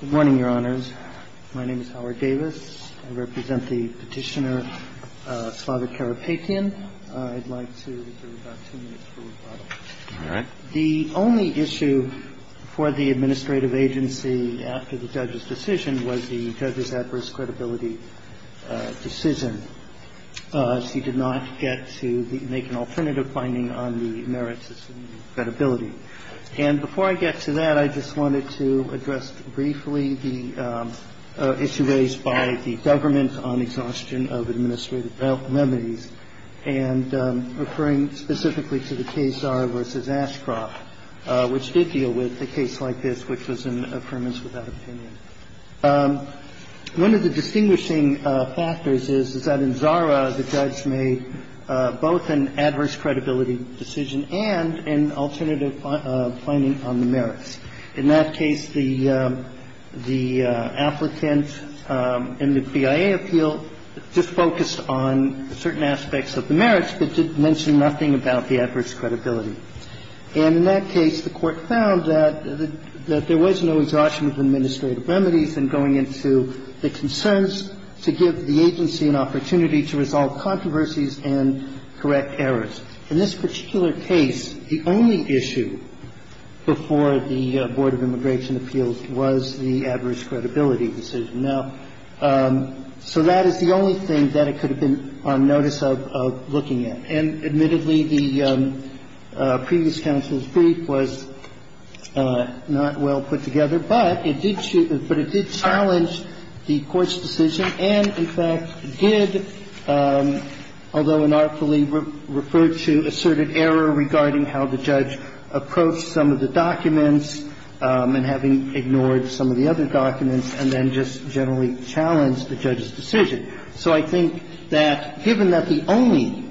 Good morning, Your Honors. My name is Howard Davis. I represent the petitioner Slava Karapetyan. I'd like to reserve about two minutes for rebuttal. All right. The only issue for the administrative agency after the judge's decision was the judge's adverse credibility decision. She did not get to make an alternative finding on the merits of credibility. And before I get to that, I just wanted to address briefly the issue raised by the government on exhaustion of administrative remedies and referring specifically to the case Zara v. Ashcroft, which did deal with a case like this, which was an affirmance without opinion. One of the distinguishing factors is that in Zara, the judge made both an adverse credibility decision and an alternative finding on the merits. In that case, the applicant in the BIA appeal just focused on certain aspects of the merits but didn't mention nothing about the adverse credibility. And in that case, the Court found that there was no exhaustion of administrative remedies in going into the concerns to give the agency an opportunity to resolve the case. The only issue before the Board of Immigration Appeals was the adverse credibility decision. Now, so that is the only thing that it could have been on notice of looking at. And admittedly, the previous counsel's brief was not well put together, but it did challenge the Court's decision and, in fact, did, although inartfully referred to, asserted error regarding how the judge approached some of the documents and having ignored some of the other documents, and then just generally challenged the judge's decision. So I think that given that the only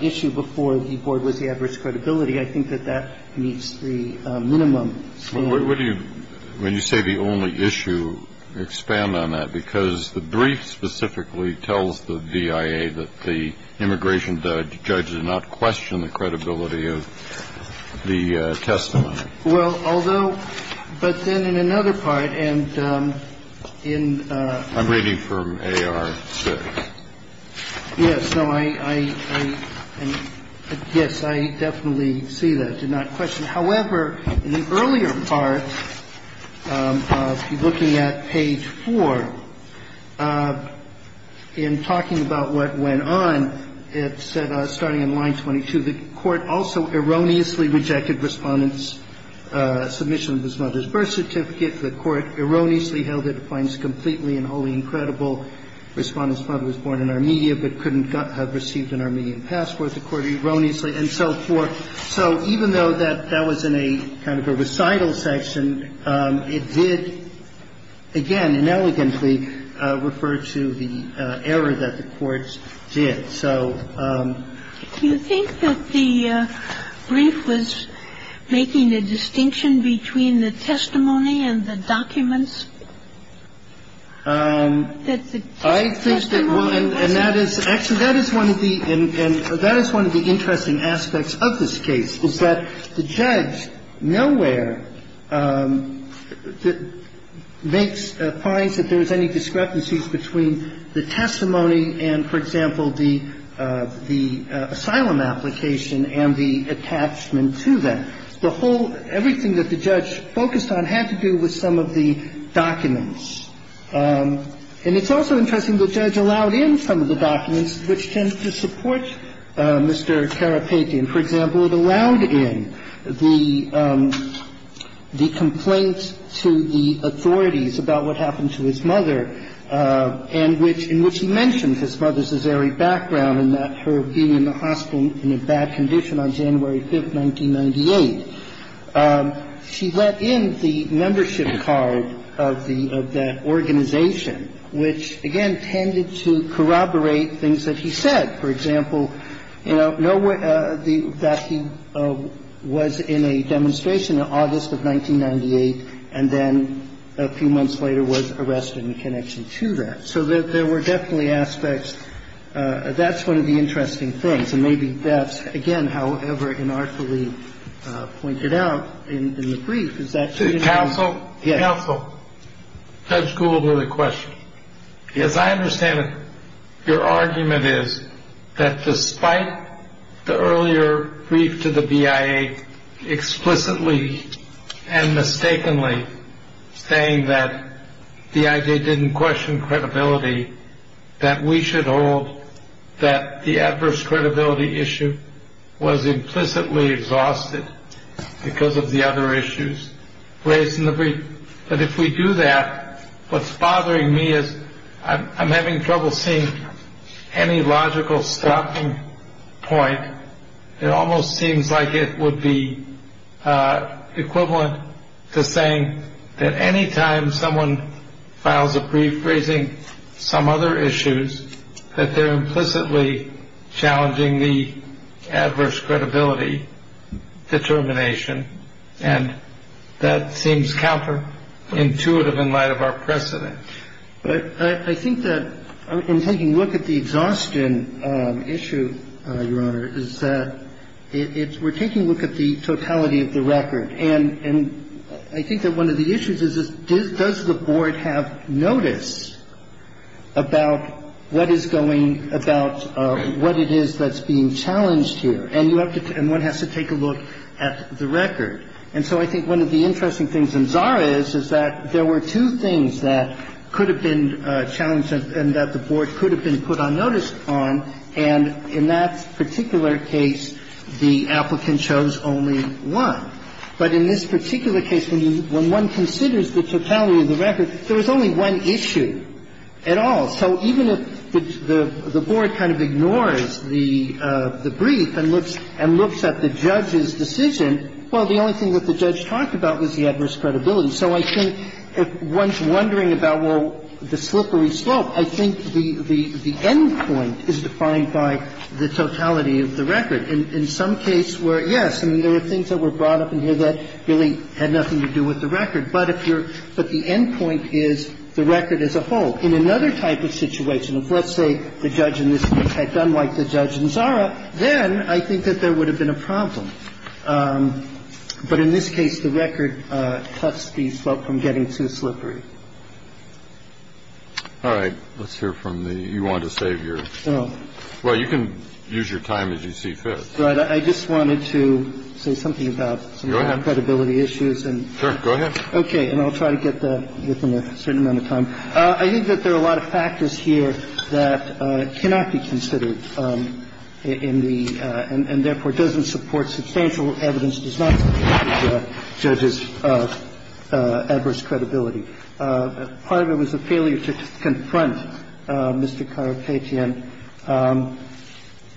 issue before the Board was the adverse credibility, I think that that meets the minimum. Well, what do you, when you say the only issue, expand on that? Because the brief specifically tells the BIA that the immigration judge did not question the credibility of the testimony. Well, although, but then in another part, and in the other part, and in the other earlier part of looking at page 4, in talking about what went on, it said, starting in line 22, the Court also erroneously rejected Respondent's submission of his mother's birth certificate. The Court erroneously held it finds completely and wholly incredible Respondent's father was born in Armenia but couldn't have received an Armenian passport. The Court erroneously, and so forth. So even though that that was in a kind of a recital section, it did, again, inelegantly refer to the error that the Court did. So the Brief was making a distinction between the testimony and the documents. I think that one, and that is, actually, that is one of the, and that is one of the interesting aspects of this case, is that the judge nowhere makes, finds that there is any discrepancies between the testimony and, for example, the asylum application and the attachment to that. The whole, everything that the judge focused on had to do with some of the documents. And it's also interesting, the judge allowed in some of the documents which tend to support Mr. Karapetyan. For example, it allowed in the complaint to the authorities about what happened to his mother, and which he mentioned his mother's Azari background and that her being in the hospital in a bad condition on January 5th, 1998. She let in the membership card of the, of that organization, which, again, tended to corroborate things that he said. For example, you know, that he was in a demonstration in August of 1998, and then a few months later was arrested in connection to that. So there were definitely aspects, that's one of the interesting things. And maybe that's, again, however inartfully pointed out in the brief, is that counsel, counsel, Judge Gould with a question. Yes. As I understand it, your argument is that despite the earlier brief to the BIA explicitly and mistakenly saying that the BIA didn't question credibility, that we should hold that the adverse credibility issue was implicitly exhausted because of the other issues raised in the brief. But if we do that, what's bothering me is I'm having trouble seeing any logical stopping point. It almost seems like it would be equivalent to saying that any time someone files a brief raising some other issues, that they're implicitly challenging the adverse credibility determination. And that seems counterintuitive in light of our precedent. But I think that in taking a look at the exhaustion issue, Your Honor, is that it's we're taking a look at the totality of the record. And I think that one of the issues is does the Board have notice about what is going about what it is that's being challenged here. And you have to and one has to take a look at the record. And so I think one of the interesting things in Zara is, is that there were two things that could have been challenged and that the Board could have been put on notice on. And in that particular case, the applicant chose only one. But in this particular case, when one considers the totality of the record, there was only one issue at all. So even if the Board kind of ignores the brief and looks at the judge's decision, well, the only thing that the judge talked about was the adverse credibility. So I think if one's wondering about, well, the slippery slope, I think the end point is defined by the totality of the record. In some case where, yes, I mean, there are things that were brought up in here that really had nothing to do with the record. But if you're – but the end point is the record as a whole. In another type of situation, if, let's say, the judge in this case had done like the judge in Zara, then I think that there would have been a problem. But in this case, the record cuts the slope from getting too slippery. All right. Let's hear from the – you want to save your – well, you can use your time as you see fit. Right. I just wanted to say something about some of the credibility issues. Sure. Go ahead. Okay. And I'll try to get that within a certain amount of time. I think that there are a lot of factors here that cannot be considered in the – and therefore, doesn't support substantial evidence, does not support the judge's adverse credibility. Part of it was a failure to confront Mr. Karapetyan.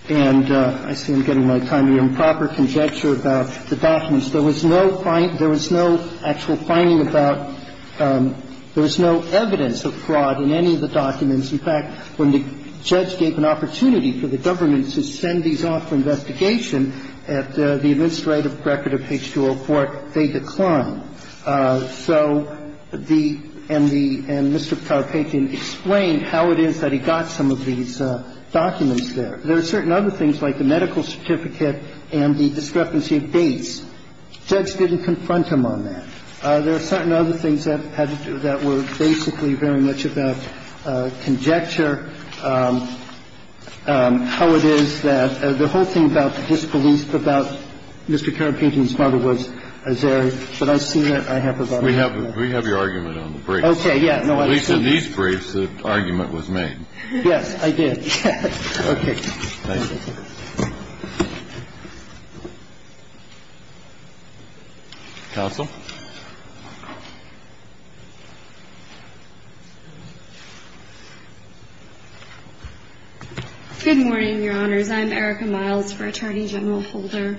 And I see I'm getting my time here. Improper conjecture about the documents. There was no actual finding about – there was no evidence of fraud in any of the documents. In fact, when the judge gave an opportunity for the government to send these off for investigation at the administrative record of H204, they declined. So the – and the – and Mr. Karapetyan explained how it is that he got some of these documents there. There are certain other things like the medical certificate and the discrepancy of dates. The judge didn't confront him on that. There are certain other things that were basically very much about conjecture, how it is that the whole thing about the disbelief about Mr. Karapetyan's mother was there. But I see that I have a lot of time. We have your argument on the briefs. Okay. Yeah. No, I see that. At least in these briefs, the argument was made. Yes, I did. Okay. Thank you. Counsel. Good morning, Your Honors. I'm Erica Miles for Attorney General Holder.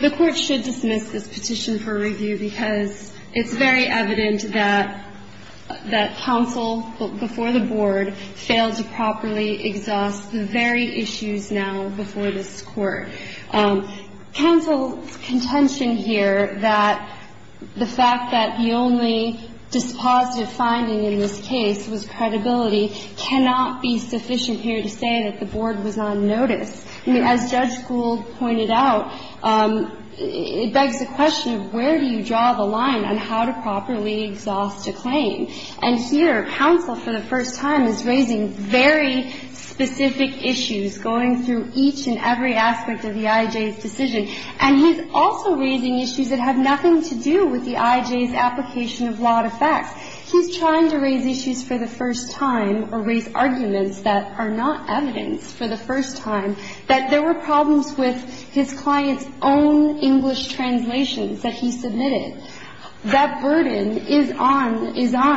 The Court should dismiss this petition for review because it's very evident that counsel before the Board failed to properly exhaust the very issues now before this Court. Counsel's contention here that the fact that the only dispositive finding in this case was credibility cannot be sufficient here to say that the Board was on notice. As Judge Gould pointed out, it begs the question of where do you draw the line on how to properly exhaust a claim. And here, counsel for the first time is raising very specific issues, going through each and every aspect of the IJ's decision. And he's also raising issues that have nothing to do with the IJ's application of lot of facts. He's trying to raise issues for the first time or raise arguments that are not evidence for the first time that there were problems with his client's own English translations that he submitted. That burden is on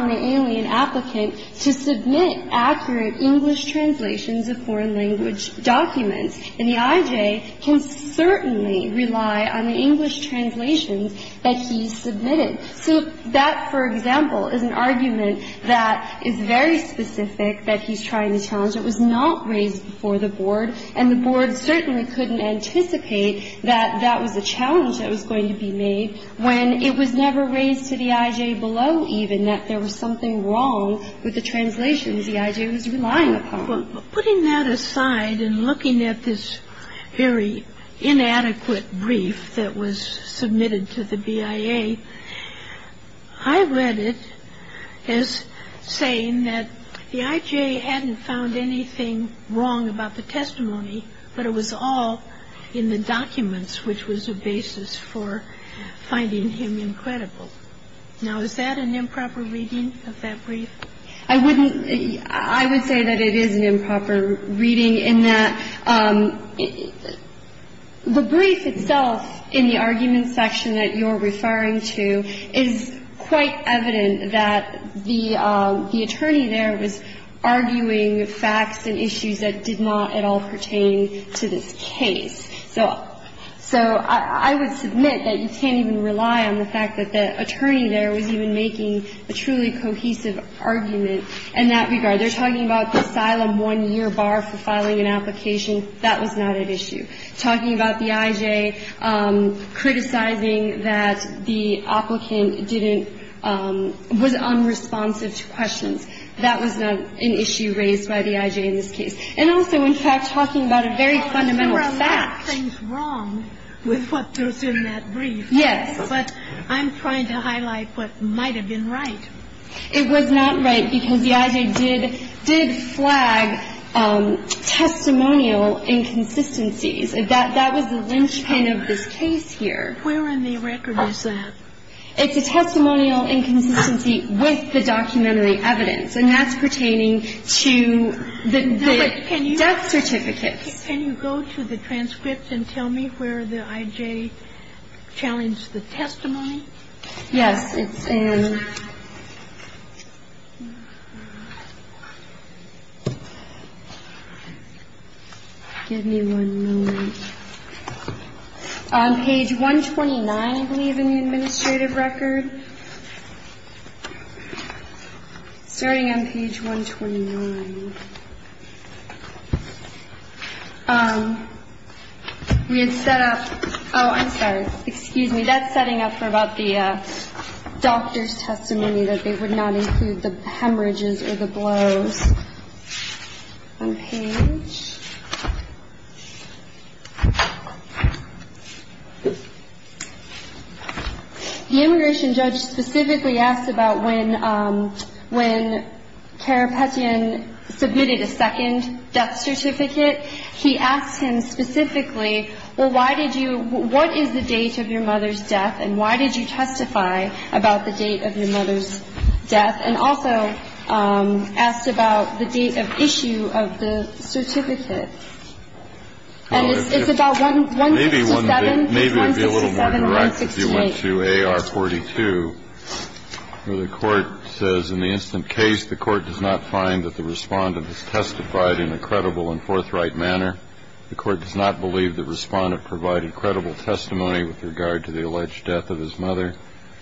the alien applicant to submit accurate English translations of foreign language documents. And the IJ can certainly rely on the English translations that he submitted. So that, for example, is an argument that is very specific that he's trying to challenge. It was not raised before the Board, and the Board certainly couldn't anticipate that that was a challenge that was going to be made when it was never raised to the IJ below even that there was something wrong with the translations the IJ was relying upon. Well, putting that aside and looking at this very inadequate brief that was submitted to the BIA, I read it as saying that the IJ hadn't found anything wrong about the testimony, but it was all in the documents, which was a basis for finding him incredible. Now, is that an improper reading of that brief? I wouldn't – I would say that it is an improper reading in that the brief itself in the argument section that you're referring to is quite evident that the attorney there was arguing facts and issues that did not at all pertain to this case. So – so I would submit that you can't even rely on the fact that the attorney there was even making a truly cohesive argument in that regard. They're talking about the asylum one-year bar for filing an application. That was not at issue. Talking about the IJ criticizing that the applicant didn't – was unresponsive to questions, that was not an issue raised by the IJ in this case. And also, in fact, talking about a very fundamental fact. There are a lot of things wrong with what goes in that brief. Yes. But I'm trying to highlight what might have been right. It was not right because the IJ did – did flag testimonial inconsistencies. That was the linchpin of this case here. Where in the record is that? It's a testimonial inconsistency with the documentary evidence. And that's pertaining to the death certificates. Can you go to the transcripts and tell me where the IJ challenged the testimony? Yes. It's in – give me one moment. Page 129, I believe, in the administrative record. Starting on page 129. We had set up – oh, I'm sorry. Excuse me. That's setting up for about the doctor's testimony, that they would not include the hemorrhages or the blows. One page. The immigration judge specifically asked about when Carapetian submitted a second death certificate. He asked him specifically, well, why did you – what is the date of your mother's death and why did you testify about the date of your mother's death? And also asked about the date of issue of the certificate. And it's about 167 or 168. Maybe it would be a little more direct if you went to AR 42, where the Court says in the instant case the Court does not find that the Respondent has testified in a credible and forthright manner. The Court does not believe the Respondent provided credible testimony with regard to the alleged death of his mother.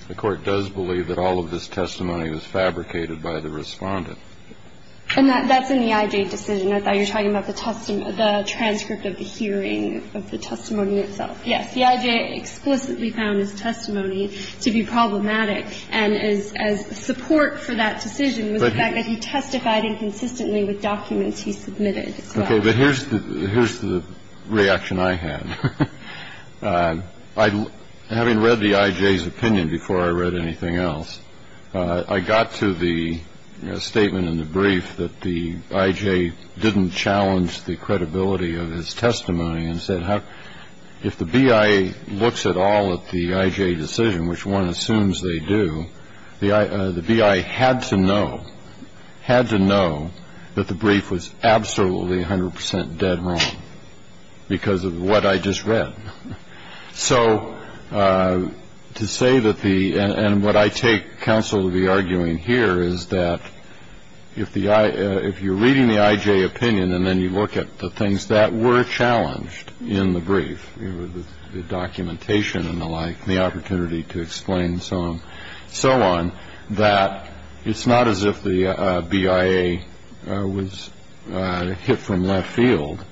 The Court does believe that all of this testimony was fabricated by the Respondent. And that's in the IJ decision. I thought you were talking about the transcript of the hearing of the testimony itself. Yes. The IJ explicitly found his testimony to be problematic. And as support for that decision was the fact that he testified inconsistently with documents he submitted as well. Okay. But here's the reaction I had. Having read the IJ's opinion before I read anything else, I got to the statement in the brief that the IJ didn't challenge the credibility of his testimony and said if the BI looks at all at the IJ decision, which one assumes they do, the BI had to know that the brief was absolutely 100 percent dead wrong because of what I just read. So to say that the – and what I take counsel to be arguing here is that if the – if you're reading the IJ opinion and then you look at the things that were challenged in the brief, the documentation and the like and the opportunity to explain and so on, that it's not as if the BIA was hit from left field,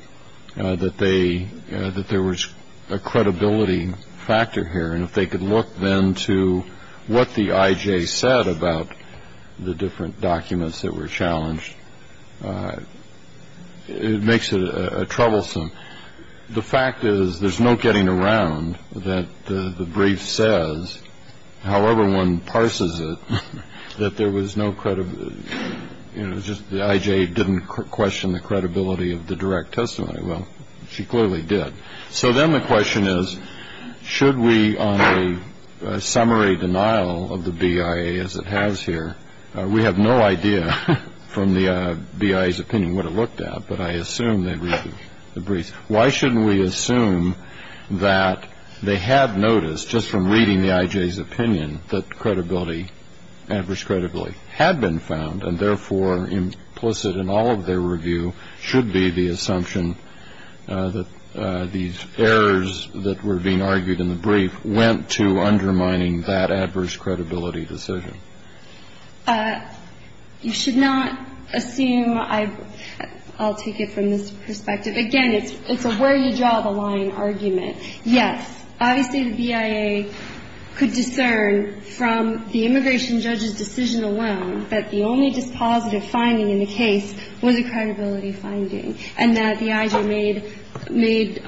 that they – that there was a credibility factor here. And if they could look then to what the IJ said about the different documents that were challenged, it makes it troublesome. The fact is there's no getting around that the brief says, however one parses it, that there was no – you know, just the IJ didn't question the credibility of the direct testimony. Well, she clearly did. So then the question is, should we on the summary denial of the BIA as it has here – we have no idea from the BIA's opinion what it looked at, but I assume they read the brief. Why shouldn't we assume that they had noticed just from reading the IJ's opinion that credibility, adverse credibility, had been found and therefore implicit in all of their review should be the assumption that these errors that were being argued in the brief went to undermining that adverse credibility decision? You should not assume – I'll take it from this perspective. Again, it's a where you draw the line argument. Yes, obviously the BIA could discern from the immigration judge's decision alone that the only dispositive finding in the case was a credibility finding and that the IJ made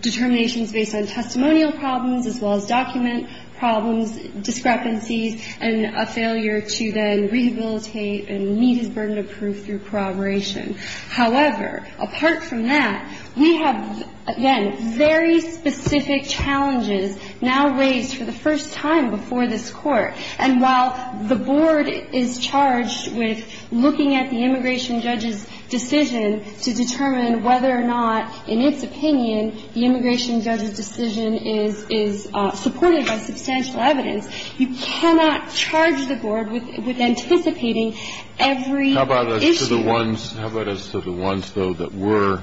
determinations based on testimonial problems as well as document problems, discrepancies, and a failure to then rehabilitate and meet his burden of proof through corroboration. However, apart from that, we have, again, very specific challenges now raised for the first time before this Court. And while the Board is charged with looking at the immigration judge's decision to determine whether or not, in its opinion, the immigration judge's decision is supported by substantial evidence, you cannot charge the Board with anticipating every issue. How about as to the ones, though, that were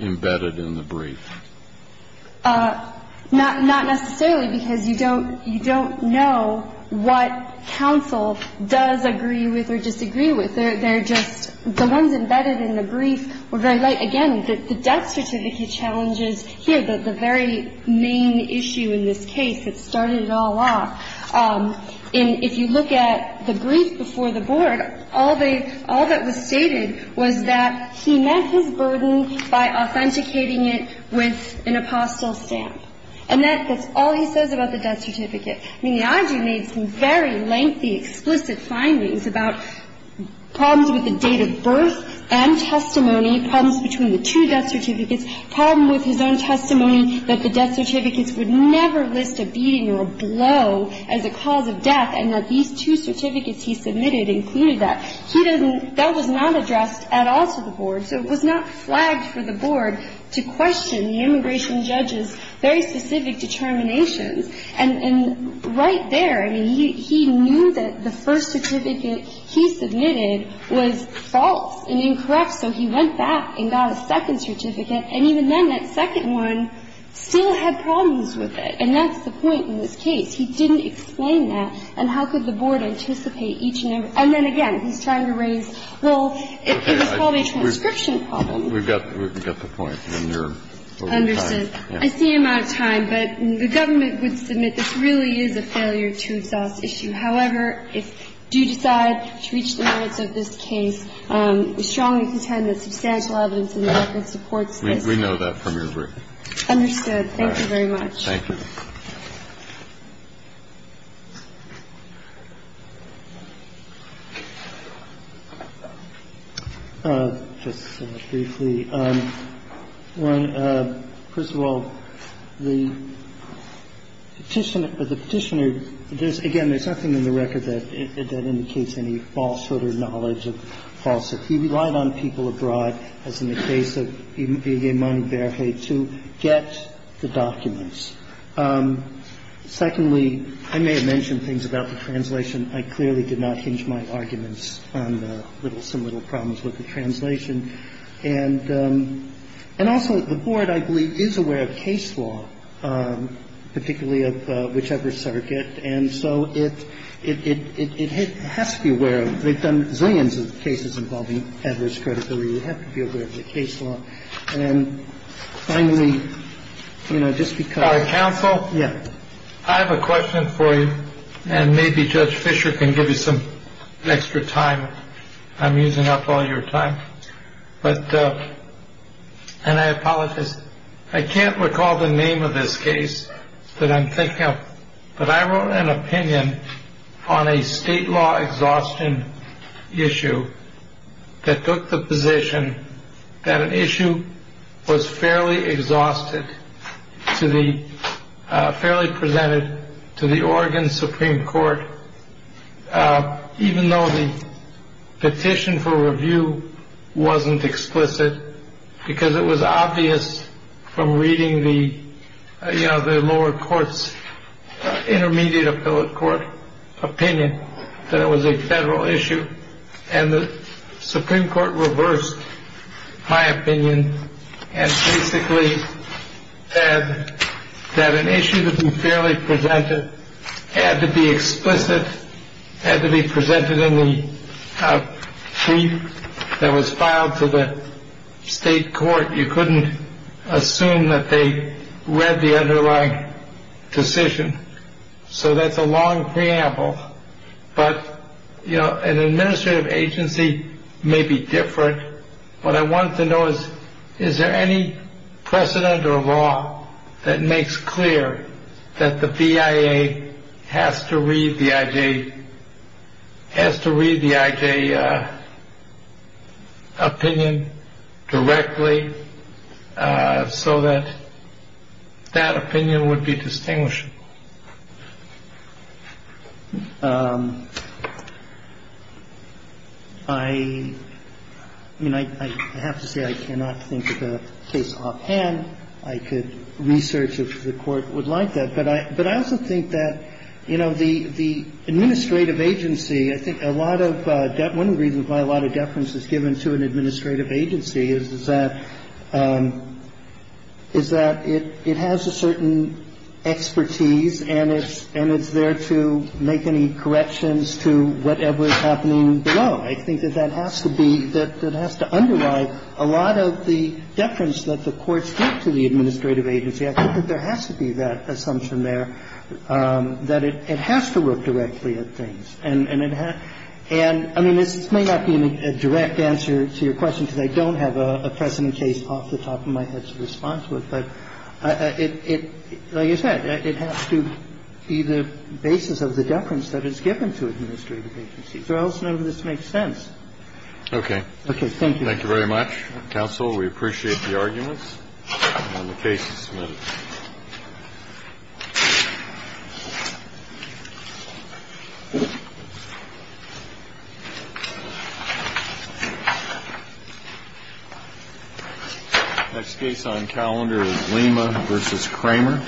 embedded in the brief? Not necessarily, because you don't know what counsel does agree with or disagree with. They're just – the ones embedded in the brief were very light. Again, the death certificate challenges here, the very main issue in this case that started it all off. And if you look at the brief before the Board, all they – all that was stated was that he met his burden by authenticating it with an apostille stamp. And that's all he says about the death certificate. I mean, the IG made some very lengthy, explicit findings about problems with the date of birth and testimony, problems between the two death certificates, problem with his own testimony that the death certificates would never list a beating or a blow as a cause of death, and that these two certificates he submitted included that. He doesn't – that was not addressed at all to the Board. So it was not flagged for the Board to question the immigration judge's very specific determinations. And right there, I mean, he knew that the first certificate he submitted was false and incorrect, so he went back and got a second certificate. And even then, that second one still had problems with it. And that's the point in this case. He didn't explain that. And how could the Board anticipate each and every – and then again, he's trying to raise – well, it was probably a transcription problem. We've got the point. And you're over time. Understood. I see I'm out of time. But the government would submit this really is a failure to exhaust issue. However, if you do decide to reach the merits of this case, we strongly contend that substantial evidence in the record supports this. We know that from your brief. Understood. Thank you very much. Thank you. Just briefly, one, first of all, the Petitioner – the Petitioner – again, there's nothing in the record that indicates any falsehood or knowledge of falsehood. He relied on people abroad, as in the case of Igemoni Berhe, to get the documents. Secondly, I may have mentioned things about the translation. I clearly did not hinge my arguments on the little – some little problems with the translation. And also, the Board, I believe, is aware of case law, particularly of whichever circuit. And so it has to be aware of – they've done zillions of cases involving adverse credibility. They have to be aware of the case law. And finally, you know, just because – Counsel? Yeah. I have a question for you. And maybe Judge Fischer can give you some extra time. I'm using up all your time. But – and I apologize. I can't recall the name of this case that I'm thinking of. But I wrote an opinion on a state law exhaustion issue that took the position that an issue was fairly exhausted to the – fairly presented to the Oregon Supreme Court, even though the petition for review wasn't explicit, because it was obvious from reading the, you know, the lower courts – intermediate appellate court opinion that it was a federal issue. And the Supreme Court reversed my opinion and basically said that an issue that was fairly presented had to be explicit, had to be presented in the brief that was filed to the state court. You couldn't assume that they read the underlying decision. So that's a long preamble. But, you know, an administrative agency may be different. What I want to know is, is there any precedent or law that makes clear that the BIA has to read the IJ – that the BIA has to read the IJ so that that opinion would be distinguishable? I mean, I have to say I cannot think of a case offhand. I could research if the Court would like that. But I also think that, you know, the administrative agency, I think a lot of – I think a lot of evidence is given to an administrative agency is that it has a certain expertise and it's there to make any corrections to whatever is happening below. I think that that has to be – that it has to underlie a lot of the deference that the courts give to the administrative agency. I think that there has to be that assumption there that it has to look directly at things. And it has – and, I mean, this may not be a direct answer to your question because I don't have a precedent case off the top of my head to respond to it. But it – like I said, it has to be the basis of the deference that is given to administrative agencies or else none of this makes sense. Kennedy. Okay. Okay. Thank you. Thank you very much, counsel. We appreciate the arguments and the cases submitted. Thank you. Next case on calendar is Lima v. Kramer.